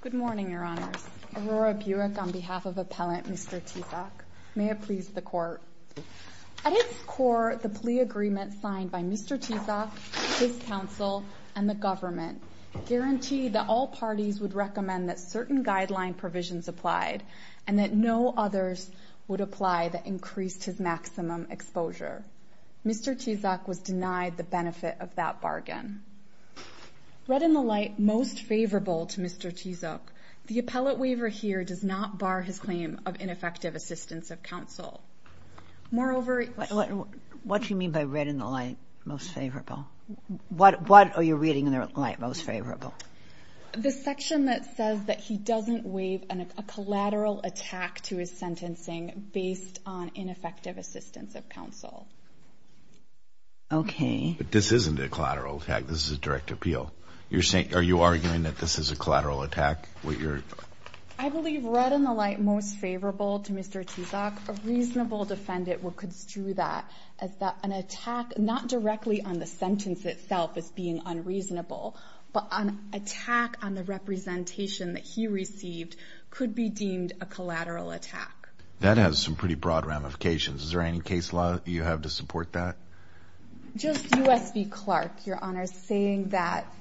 Good morning, Your Honors. Aurora Buick on behalf of Appellant Mr. Tizoc. May it please the Court. At its core, the plea agreement signed by Mr. Tizoc, his counsel, and the government guaranteed that all parties would recommend that certain guideline provisions applied and that no others would apply that increased his maximum exposure. Mr. Tizoc was denied the benefit of that bargain. Read in the light, most favorable to Mr. Tizoc, the appellate waiver here does not bar his claim of ineffective assistance of counsel. Moreover... What do you mean by read in the light, most favorable? What are you reading in the light most favorable? The section that says that he doesn't waive a collateral attack to his sentencing based on ineffective assistance of counsel. Okay. But this isn't a collateral attack. This is a direct appeal. Are you arguing that this is a collateral attack? I believe read in the light, most favorable to Mr. Tizoc, a reasonable defendant would construe that as an attack not directly on the sentence itself as being unreasonable, but an attack on the representation that he received could be deemed a collateral attack. That has some pretty broad ramifications. Is there any case law you have to support that? Just U.S. v. Clark, Your Honor, saying that,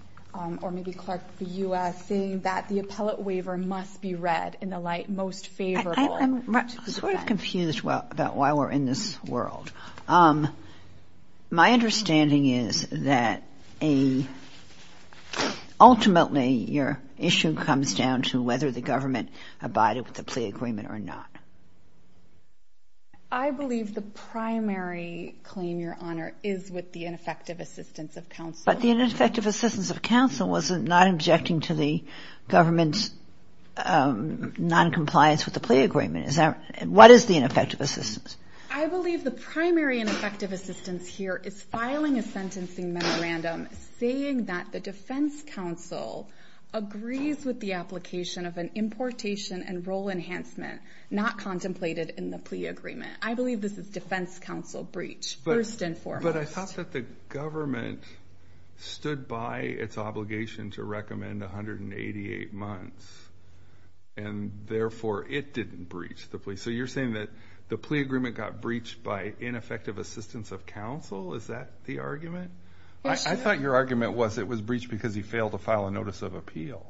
or maybe Clark v. U.S., saying that the appellate waiver must be read in the light most favorable to the defendant. I'm sort of confused about why we're in this world. My understanding is that ultimately your issue comes down to whether the government abided with the plea agreement or not. I believe the primary claim, Your Honor, is with the ineffective assistance of counsel. But the ineffective assistance of counsel was not objecting to the government's noncompliance with the plea agreement. What is the ineffective assistance? I believe the primary ineffective assistance here is filing a sentencing memorandum saying that the defense counsel agrees with the application of an importation and role enhancement not contemplated in the plea agreement. I believe this is defense counsel breach, first and foremost. But I thought that the government stood by its obligation to recommend 188 months, and therefore it didn't breach the plea. So you're saying that the plea agreement got breached by ineffective assistance of counsel? Is that the argument? I thought your argument was it was breached because he failed to file a notice of appeal.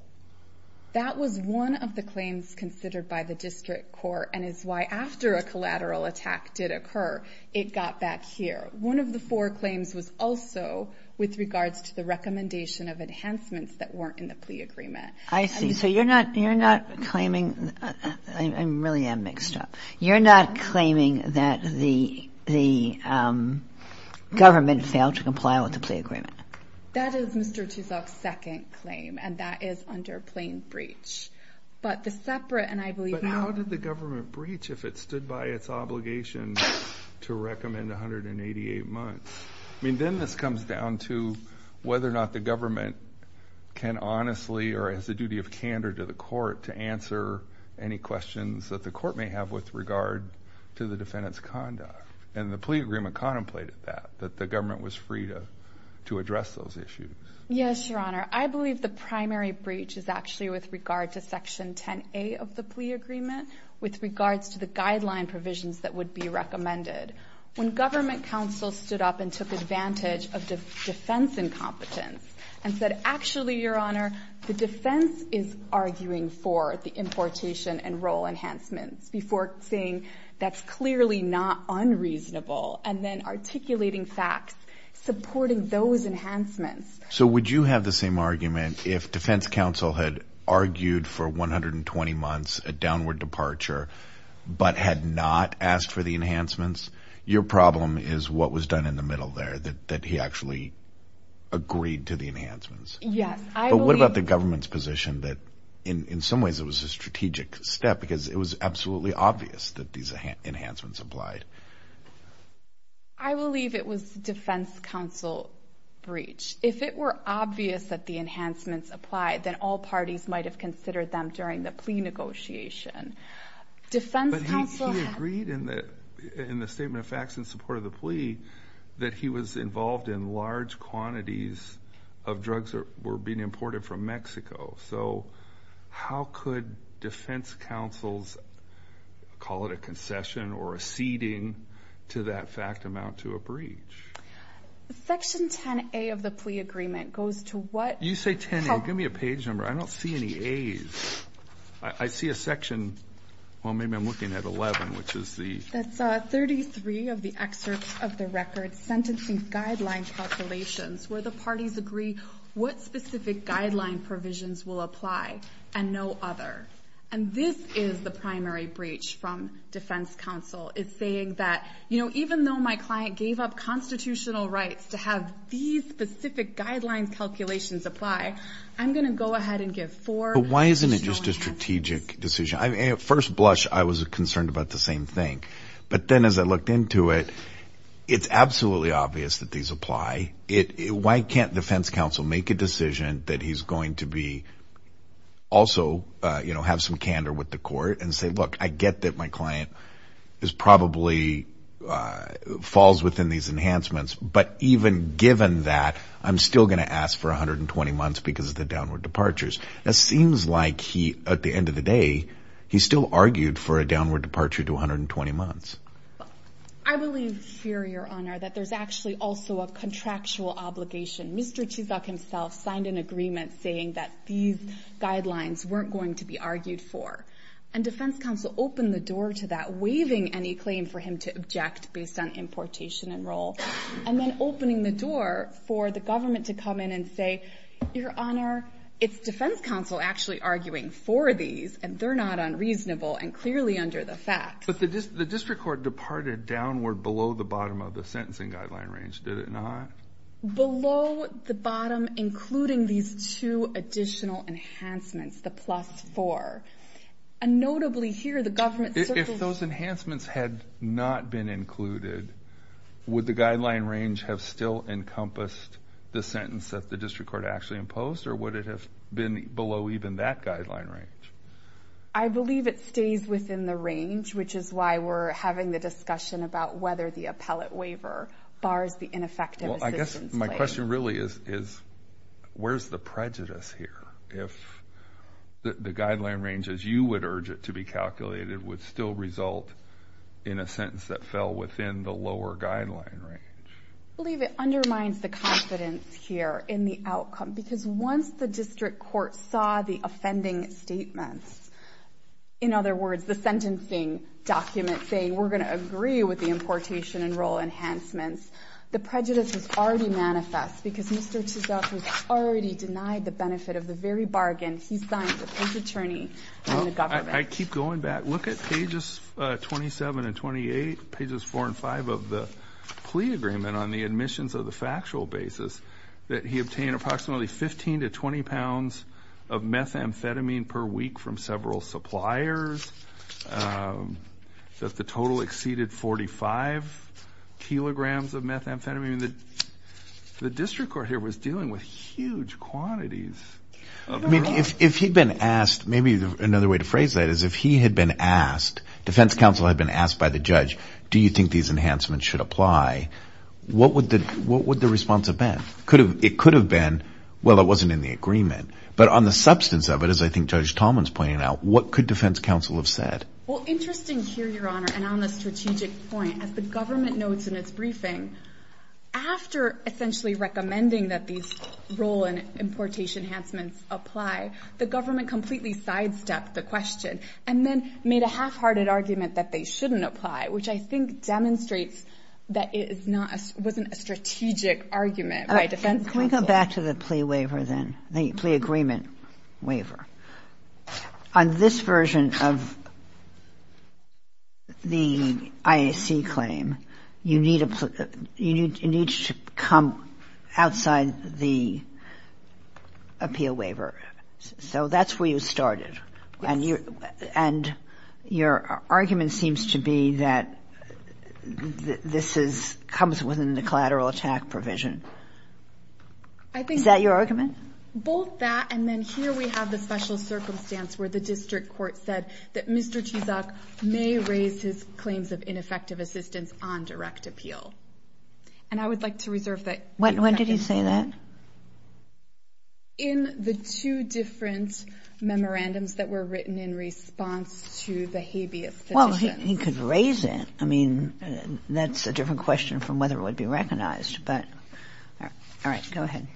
That was one of the claims considered by the district court and is why after a collateral attack did occur, it got back here. One of the four claims was also with regards to the recommendation of enhancements that weren't in the plea agreement. I see. So you're not claiming the government failed to comply with the plea agreement. That is Mr. Tuzolk's second claim, and that is under plain breach. But the separate, and I believe that... But how did the government breach if it stood by its obligation to recommend 188 months? I mean, then this comes down to whether or not the government can honestly or has a duty of candor to the court to answer any questions that the court may have with regard to the defendant's conduct. And the plea agreement contemplated that, that the government was free to address those issues. Yes, Your Honor. I believe the primary breach is actually with regard to Section 10A of the plea agreement with regards to the guideline provisions that would be recommended. When government counsel stood up and took advantage of defense incompetence and said, actually, Your Honor, the defense is arguing for the importation and role enhancements before saying that's clearly not unreasonable and then articulating facts supporting those enhancements. So would you have the same argument if defense counsel had argued for 120 months, a downward departure, but had not asked for the enhancements? Your problem is what was done in the middle there, that he actually agreed to the enhancements. Yes. But what about the government's position that in some ways it was a strategic step because it was absolutely obvious that these enhancements applied? I believe it was defense counsel breach. If it were obvious that the enhancements applied, then all parties might have considered them during the plea negotiation. But he agreed in the statement of facts in support of the plea that he was involved in large quantities of drugs that were being imported from Mexico. So how could defense counsels call it a concession or a ceding to that fact amount to a breach? Section 10A of the plea agreement goes to what? You say 10A. Give me a page number. I don't see any A's. I see a section. Well, maybe I'm looking at 11, which is the? That's 33 of the excerpts of the record, sentencing guideline calculations, where the parties agree what specific guideline provisions will apply and no other. And this is the primary breach from defense counsel. It's saying that even though my client gave up constitutional rights to have these specific guideline calculations apply, I'm going to go ahead and give four. But why isn't it just a strategic decision? At first blush, I was concerned about the same thing. But then as I looked into it, it's absolutely obvious that these apply. Why can't defense counsel make a decision that he's going to also have some candor with the court and say, look, I get that my client probably falls within these enhancements, but even given that, I'm still going to ask for 120 months because of the downward departures. It seems like, at the end of the day, he still argued for a downward departure to 120 months. I believe here, Your Honor, that there's actually also a contractual obligation. Mr. Chizuk himself signed an agreement saying that these guidelines weren't going to be argued for. And defense counsel opened the door to that, waiving any claim for him to object based on importation and role, and then opening the door for the government to come in and say, Your Honor, it's defense counsel actually arguing for these, and they're not unreasonable and clearly under the facts. But the district court departed downward below the bottom of the sentencing guideline range, did it not? Below the bottom, including these two additional enhancements, the plus four. And notably here, the government circles... If those enhancements had not been included, would the guideline range have still encompassed the sentence that the district court actually imposed, or would it have been below even that guideline range? I believe it stays within the range, which is why we're having the discussion about whether the appellate waiver bars the ineffective assistance claim. Well, I guess my question really is, where's the prejudice here? If the guideline range, as you would urge it to be calculated, would still result in a sentence that fell within the lower guideline range? Because once the district court saw the offending statements, in other words, the sentencing document saying, We're going to agree with the importation and role enhancements, the prejudice was already manifest because Mr. Chizoff has already denied the benefit of the very bargain he signed with his attorney and the government. I keep going back. Look at pages 27 and 28, pages 4 and 5 of the plea agreement on the admissions of the factual basis that he obtained approximately 15 to 20 pounds of methamphetamine per week from several suppliers, that the total exceeded 45 kilograms of methamphetamine. The district court here was dealing with huge quantities. If he'd been asked, maybe another way to phrase that is if he had been asked, defense counsel had been asked by the judge, Do you think these enhancements should apply? What would the response have been? It could have been, Well, it wasn't in the agreement. But on the substance of it, as I think Judge Talman's pointing out, what could defense counsel have said? Well, interesting here, Your Honor, and on the strategic point, as the government notes in its briefing, after essentially recommending that these role and importation enhancements apply, the government completely sidestepped the question and then made a half-hearted argument that they shouldn't apply, which I think demonstrates that it wasn't a strategic argument by defense counsel. Can we go back to the plea waiver then, the plea agreement waiver? On this version of the IAC claim, you need to come outside the appeal waiver. So that's where you started. And your argument seems to be that this comes within the collateral attack provision. Is that your argument? Both that and then here we have the special circumstance where the district court said that Mr. Chizok may raise his claims of ineffective assistance on direct appeal. And I would like to reserve that. When did he say that? In the two different memorandums that were written in response to the habeas petitions. Well, he could raise it. I mean, that's a different question from whether it would be recognized. But all right, go ahead.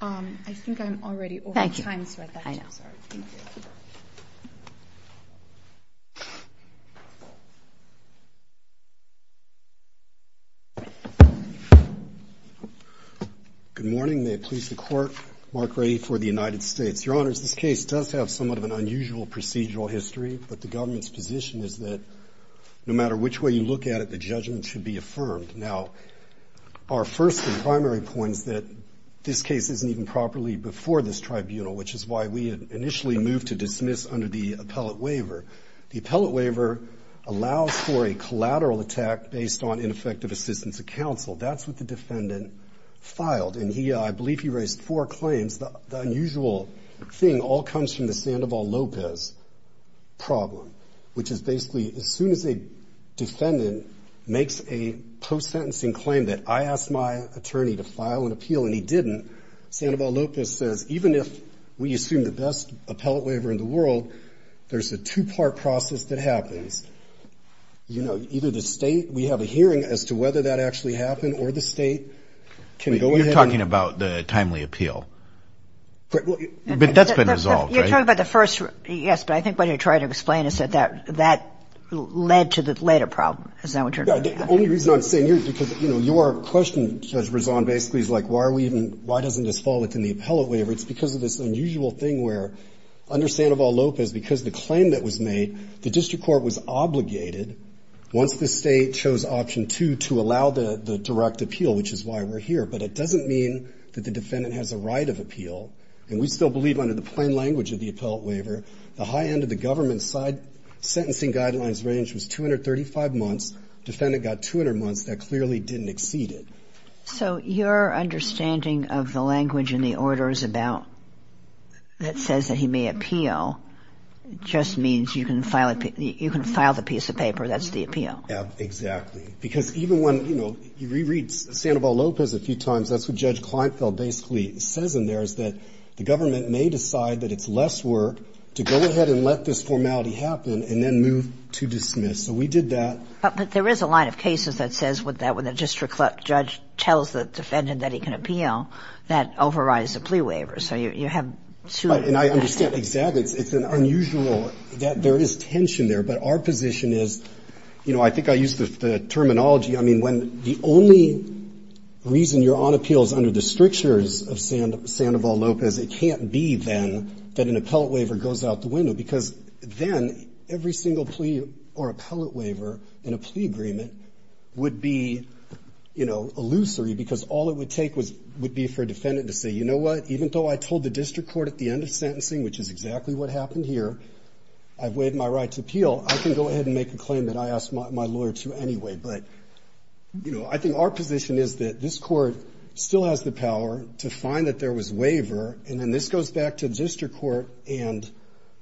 I think I'm already over time, so I'd like to start. I know. Thank you. Good morning. May it please the Court. Mark Ray for the United States. Your Honors, this case does have somewhat of an unusual procedural history, but the government's position is that no matter which way you look at it, the judgment should be affirmed. Now, our first and primary point is that this case isn't even properly before this tribunal, which is why we initially moved to dismiss under the appellate waiver. The appellate waiver allows for a collateral attack based on ineffective assistance of counsel. That's what the defendant filed, and I believe he raised four claims. The unusual thing all comes from the Sandoval-Lopez problem, which is basically as soon as a defendant makes a post-sentencing claim that I asked my attorney to file an appeal and he didn't, Sandoval-Lopez says, even if we assume the best appellate waiver in the world, there's a two-part process that happens. You know, either the state, we have a hearing as to whether that actually happened, or the state can go ahead. You're talking about the timely appeal. But that's been resolved, right? You're talking about the first, yes, but I think what you're trying to explain is that that led to the later problem. Is that what you're trying to say? Yeah. The only reason I'm saying here is because, you know, your question, Judge Brezon, basically is like why are we even, why doesn't this fall within the appellate waiver? It's because of this unusual thing where under Sandoval-Lopez, because the claim that was made, the district court was obligated once the state chose option two to allow the direct appeal, which is why we're here. But it doesn't mean that the defendant has a right of appeal. And we still believe under the plain language of the appellate waiver, the high end of the government side sentencing guidelines range was 235 months. Defendant got 200 months. That clearly didn't exceed it. So your understanding of the language in the order is about, that says that he may appeal, just means you can file the piece of paper that's the appeal. Yeah, exactly. Because even when, you know, you reread Sandoval-Lopez a few times, that's what Judge Kleinfeld basically says in there, is that the government may decide that it's less work to go ahead and let this formality happen and then move to dismiss. So we did that. But there is a line of cases that says that when the district judge tells the defendant that he can appeal, that overrides the plea waiver. So you have two. And I understand exactly. It's unusual that there is tension there. But our position is, you know, I think I used the terminology. I mean, when the only reason you're on appeal is under the strictures of Sandoval-Lopez, it can't be then that an appellate waiver goes out the window. Because then every single plea or appellate waiver in a plea agreement would be, you know, illusory. Because all it would take would be for a defendant to say, you know what, even though I told the district court at the end of sentencing, which is exactly what happened here, I've waived my right to appeal, I can go ahead and make a claim that I asked my lawyer to anyway. But, you know, I think our position is that this Court still has the power to find that there was waiver, and then this goes back to the district court, and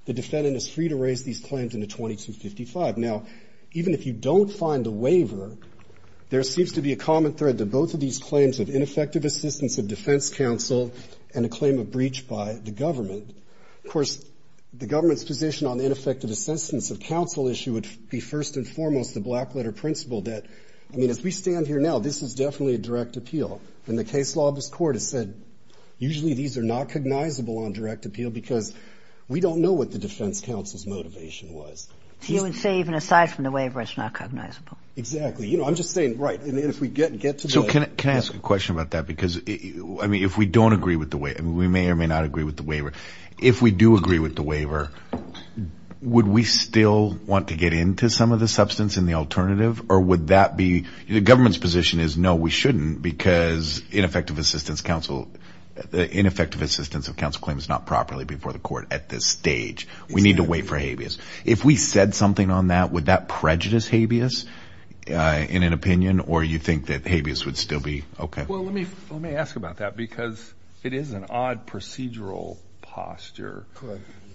the defendant is free to raise these claims into 2255. Now, even if you don't find a waiver, there seems to be a common thread to both of these claims of ineffective assistance of defense counsel and a claim of breach by the government. Of course, the government's position on ineffective assistance of counsel issue would be first and foremost the black-letter principle that, I mean, as we stand here now, this is definitely a direct appeal. And the case law of this Court has said usually these are not cognizable on direct appeal because we don't know what the defense counsel's motivation was. So you would say even aside from the waiver, it's not cognizable? Exactly. You know, I'm just saying, right, and if we get to the... So can I ask a question about that? Because, I mean, if we don't agree with the waiver, we may or may not agree with the waiver. If we do agree with the waiver, would we still want to get into some of the substance and the alternative? Or would that be... The government's position is, no, we shouldn't because ineffective assistance of counsel claims is not properly before the Court at this stage. We need to wait for habeas. If we said something on that, would that prejudice habeas in an opinion? Or you think that habeas would still be okay? Well, let me ask about that because it is an odd procedural posture.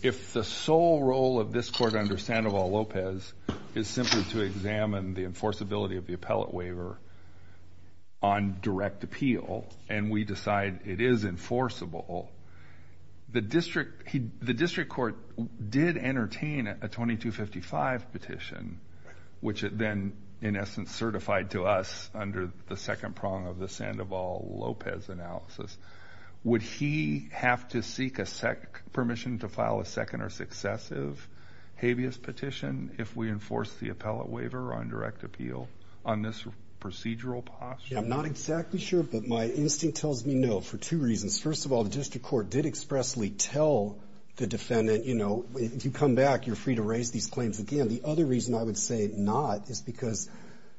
If the sole role of this Court under Sandoval-Lopez is simply to examine the enforceability of the appellate waiver on direct appeal and we decide it is enforceable, the district court did entertain a 2255 petition, which it then, in essence, certified to us under the second prong of the Sandoval-Lopez analysis. Would he have to seek permission to file a second or successive habeas petition if we enforce the appellate waiver on direct appeal on this procedural posture? I'm not exactly sure, but my instinct tells me no for two reasons. First of all, the district court did expressly tell the defendant, you know, if you come back, you're free to raise these claims again. The other reason I would say not is because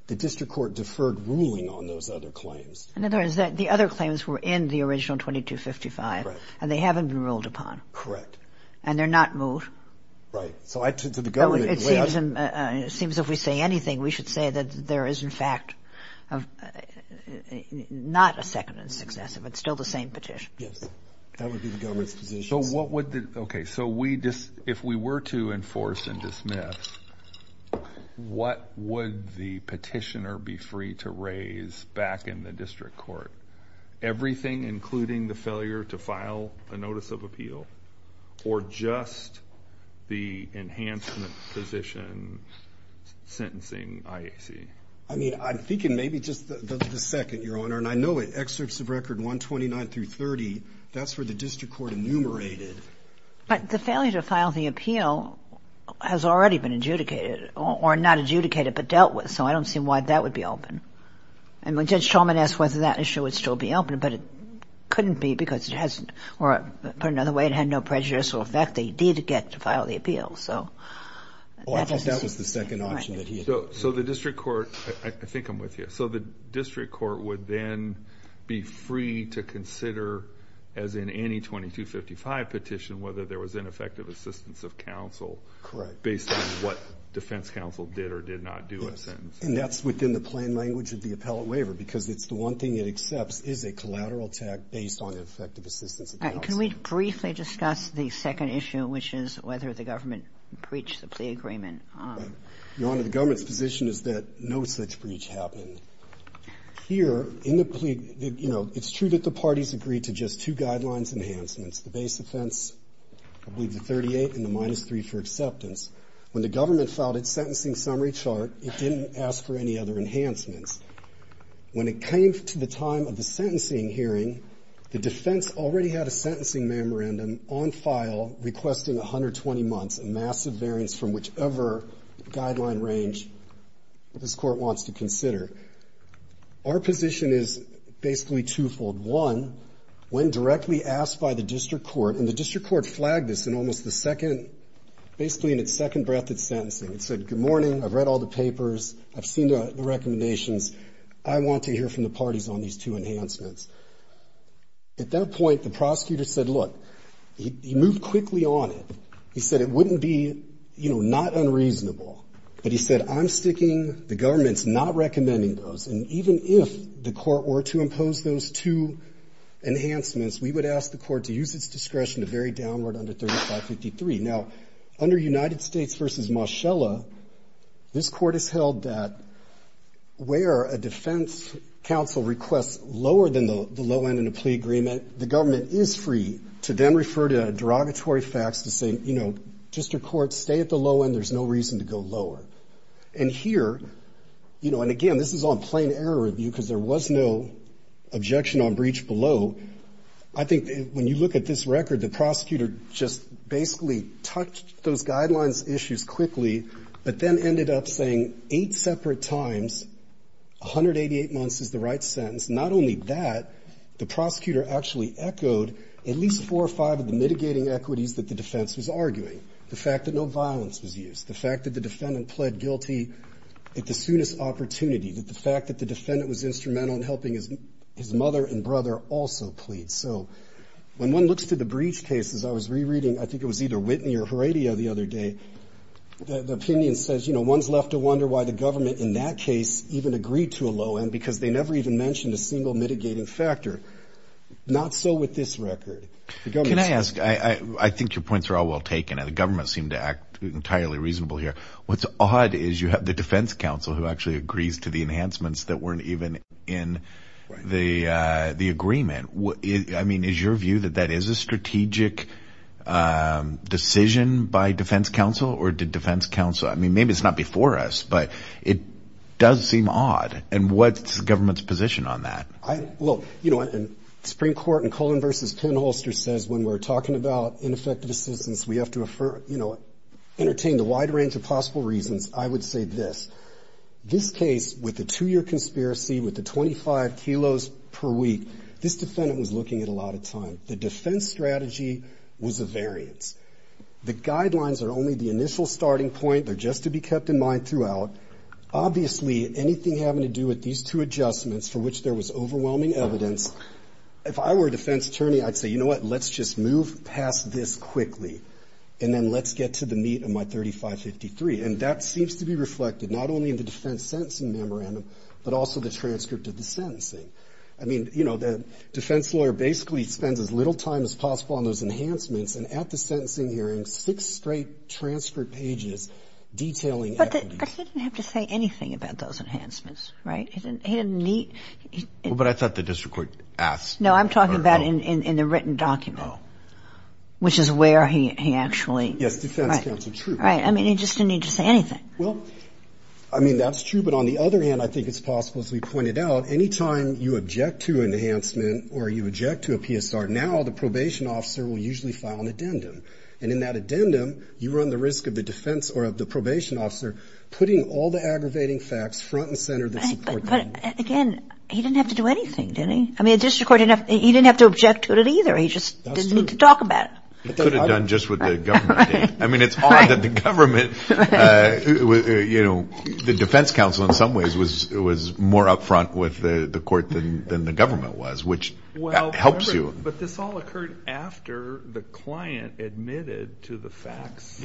the district court deferred ruling on those other claims. In other words, the other claims were in the original 2255 and they haven't been ruled upon. Correct. And they're not moved. Right. It seems if we say anything, we should say that there is, in fact, not a second and successive. It's still the same petition. Yes. That would be the government's position. Okay, so if we were to enforce and dismiss, what would the petitioner be free to raise back in the district court? Everything including the failure to file a notice of appeal or just the enhancement position sentencing IAC? I mean, I'm thinking maybe just the second, Your Honor. And I know in excerpts of Record 129 through 30, that's where the district court enumerated. But the failure to file the appeal has already been adjudicated or not adjudicated but dealt with, so I don't see why that would be open. And when Judge Shulman asked whether that issue would still be open, but it couldn't be because it hasn't. Or put another way, it had no prejudicial effect. They did get to file the appeal, so that doesn't seem right. Well, I think that was the second option that he had. So the district court, I think I'm with you. So the district court would then be free to consider, as in any 2255 petition, whether there was ineffective assistance of counsel based on what defense counsel did or did not do in a sentence. And that's within the plain language of the appellate waiver, because it's the one thing it accepts is a collateral attack based on ineffective assistance of counsel. All right, can we briefly discuss the second issue, which is whether the government breached the plea agreement? Your Honor, the government's position is that no such breach happened. Here in the plea, you know, it's true that the parties agreed to just two guidelines enhancements, the base offense, I believe the 38, and the minus 3 for acceptance. When the government filed its sentencing summary chart, it didn't ask for any other enhancements. When it came to the time of the sentencing hearing, the defense already had a sentencing memorandum on file requesting 120 months, a massive variance from whichever guideline range this court wants to consider. Our position is basically twofold. One, when directly asked by the district court, and the district court flagged this in almost the second, basically in its second breath at sentencing. It said, good morning, I've read all the papers, I've seen the recommendations, I want to hear from the parties on these two enhancements. At that point, the prosecutor said, look, he moved quickly on it. He said it wouldn't be, you know, not unreasonable. But he said, I'm sticking, the government's not recommending those. And even if the court were to impose those two enhancements, we would ask the court to use its discretion to vary downward under 3553. Now, under United States v. Moschella, this court has held that where a defense counsel requests lower than the low end in a plea agreement, the government is free to then refer to derogatory facts to say, you know, district court, stay at the low end, there's no reason to go lower. And here, you know, and again, this is on plain error review, because there was no objection on breach below. I think when you look at this record, the prosecutor just basically touched those guidelines issues quickly, but then ended up saying eight separate times, 188 months is the right sentence. Not only that, the prosecutor actually echoed at least four or five of the mitigating equities that the defense was arguing, the fact that no violence was used, the fact that the defendant pled guilty at the soonest opportunity, that the fact that the defendant was instrumental in helping his mother and brother also plead. So when one looks to the breach cases, I was rereading, I think it was either Whitney or Heredia the other day, the opinion says, you know, one's left to wonder why the government in that case even agreed to a low end, because they never even mentioned a single mitigating factor. Not so with this record. Can I ask, I think your points are all well taken, and the government seemed to act entirely reasonable here. What's odd is you have the defense counsel who actually agrees to the enhancements that weren't even in the agreement. I mean, is your view that that is a strategic decision by defense counsel, or did defense counsel, I mean, maybe it's not before us, but it does seem odd. And what's the government's position on that? Look, you know, and Supreme Court in Cullen v. Penholster says when we're talking about ineffective assistance, we have to, you know, entertain the wide range of possible reasons. I would say this. This case, with the two-year conspiracy, with the 25 kilos per week, this defendant was looking at a lot of time. The defense strategy was a variance. The guidelines are only the initial starting point. They're just to be kept in mind throughout. Obviously, anything having to do with these two adjustments for which there was overwhelming evidence, if I were a defense attorney, I'd say, you know what, let's just move past this quickly, and then let's get to the meat of my 3553. And that seems to be reflected not only in the defense sentencing memorandum, but also the transcript of the sentencing. I mean, you know, the defense lawyer basically spends as little time as possible on those enhancements, and at the sentencing hearing, six straight transcript pages detailing equity. But he didn't have to say anything about those enhancements, right? He didn't need. Well, but I thought the district court asked. No, I'm talking about in the written document, which is where he actually. Yes, defense counsel, true. Right. I mean, he just didn't need to say anything. Well, I mean, that's true. But on the other hand, I think it's possible, as we pointed out, anytime you object to an enhancement or you object to a PSR, now the probation officer will usually file an addendum. And in that addendum, you run the risk of the defense or of the probation officer putting all the aggravating facts front and center. But, again, he didn't have to do anything, did he? I mean, the district court, he didn't have to object to it either. He just didn't need to talk about it. He could have done just what the government did. I mean, it's odd that the government, you know, the defense counsel in some ways was more up front with the court than the government was, which helps you. But this all occurred after the client admitted to the facts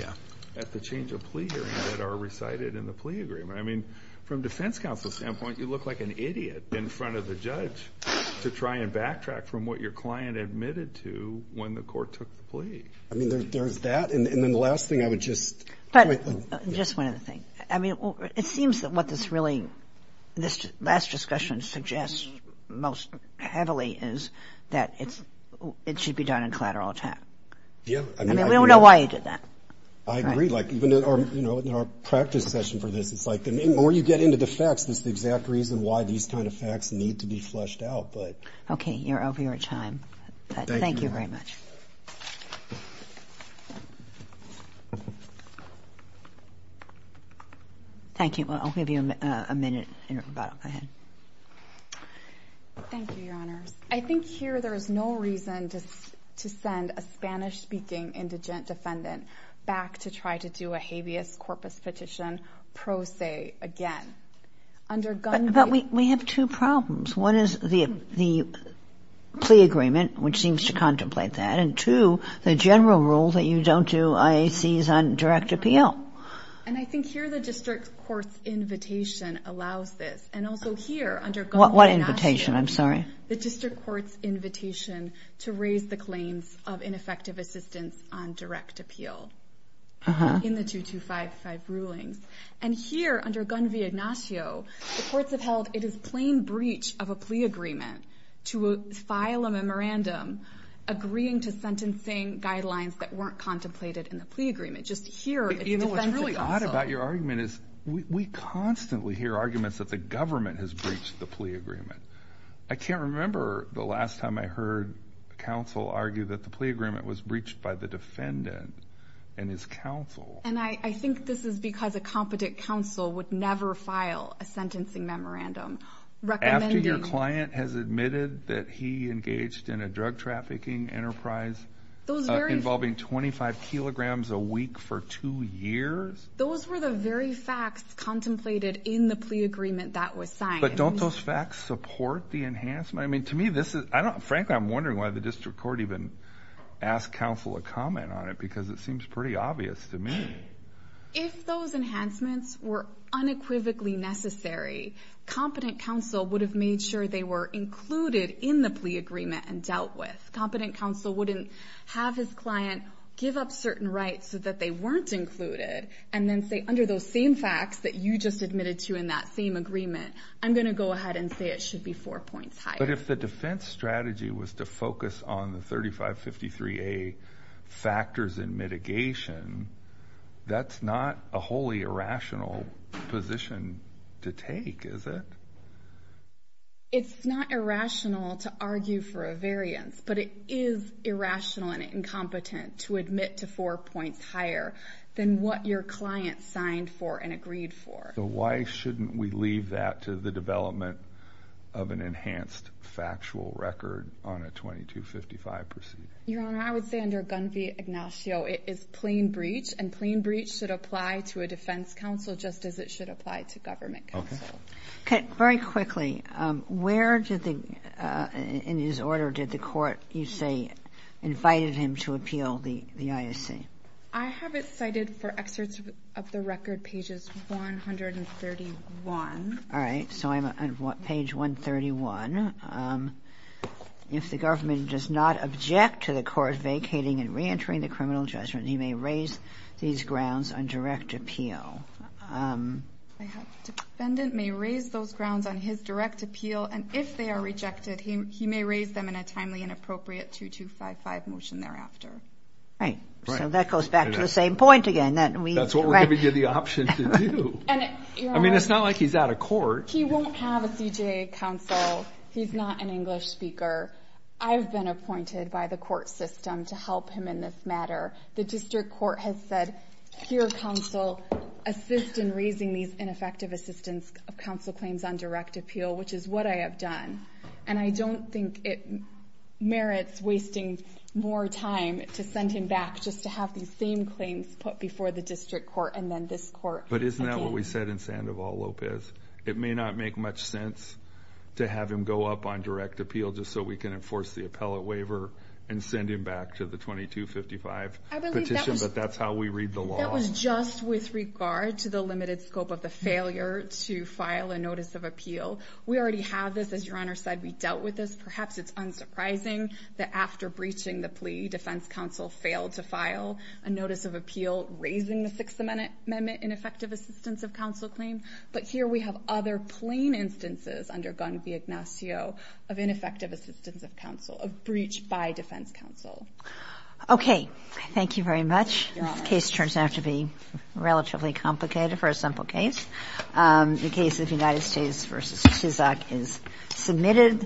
at the change of plea hearing that are recited in the plea agreement. I mean, from defense counsel's standpoint, you look like an idiot in front of the judge to try and backtrack from what your client admitted to when the court took the plea. I mean, there's that. And then the last thing I would just point to. Just one other thing. I mean, it seems that what this really, this last discussion suggests most heavily is that it should be done in collateral attack. Yeah. I mean, we don't know why he did that. I agree. Like, even in our practice session for this, it's like the more you get into the facts, that's the exact reason why these kind of facts need to be fleshed out. Okay. You're over your time. Thank you very much. Thank you. I'll give you a minute in rebuttal. Go ahead. Thank you, Your Honors. I think here there is no reason to send a Spanish-speaking indigent defendant back to try to do a habeas corpus petition pro se again. But we have two problems. One is the plea agreement, which seems to contemplate that. And, two, the general rule that you don't do IACs on direct appeal. And I think here the district court's invitation allows this. And also here under Gunn v. Ignacio. What invitation? I'm sorry. The district court's invitation to raise the claims of ineffective assistance on direct appeal in the 2255 rulings. And here under Gunn v. Ignacio, the courts have held it is plain breach of a plea agreement to file a memorandum agreeing to sentencing guidelines that weren't contemplated in the plea agreement. Just here it's defensive counsel. You know what's odd about your argument is we constantly hear arguments that the government has breached the plea agreement. I can't remember the last time I heard counsel argue that the plea agreement was breached by the defendant and his counsel. And I think this is because a competent counsel would never file a sentencing memorandum recommending. After your client has admitted that he engaged in a drug trafficking enterprise involving 25 kilograms a week for two years? Those were the very facts contemplated in the plea agreement that was signed. But don't those facts support the enhancement? Frankly, I'm wondering why the district court even asked counsel a comment on it because it seems pretty obvious to me. If those enhancements were unequivocally necessary, competent counsel would have made sure they were included in the plea agreement and dealt with. Competent counsel wouldn't have his client give up certain rights so that they weren't included and then say under those same facts that you just admitted to in that same agreement, I'm going to go ahead and say it should be four points higher. But if the defense strategy was to focus on the 3553A factors in mitigation, that's not a wholly irrational position to take, is it? It's not irrational to argue for a variance, but it is irrational and incompetent to admit to four points higher than what your client signed for and agreed for. So why shouldn't we leave that to the development of an enhanced factual record on a 2255 proceeding? Your Honor, I would say under Gunn v. Ignacio, it is plain breach and plain breach should apply to a defense counsel just as it should apply to government counsel. Okay. Very quickly, where did the, in his order, did the court, you say, invited him to appeal the ISC? I have it cited for excerpts of the record, pages 131. All right. So I'm on page 131. If the government does not object to the court vacating and reentering the criminal judgment, he may raise these grounds on direct appeal. The defendant may raise those grounds on his direct appeal, and if they are rejected, he may raise them in a timely and appropriate 2255 motion thereafter. Right. So that goes back to the same point again. That's what we're giving you the option to do. I mean, it's not like he's out of court. He won't have a CJA counsel. He's not an English speaker. I've been appointed by the court system to help him in this matter. The district court has said, here, counsel, assist in raising these ineffective assistance of counsel claims on direct appeal, which is what I have done. And I don't think it merits wasting more time to send him back just to have these same claims put before the district court and then this court again. But isn't that what we said in Sandoval-Lopez? It may not make much sense to have him go up on direct appeal just so we can enforce the appellate waiver and send him back to the 2255 petition, but that's how we read the law. That was just with regard to the limited scope of the failure to file a notice of appeal. We already have this. As Your Honor said, we dealt with this. Perhaps it's unsurprising that after breaching the plea, defense counsel failed to file a notice of appeal raising the Sixth Amendment ineffective assistance of counsel claim. But here we have other plain instances undergone via Ignacio of ineffective assistance of counsel, of breach by defense counsel. Okay. Thank you very much. This case turns out to be relatively complicated for a simple case. The case of United States v. Chisok is submitted.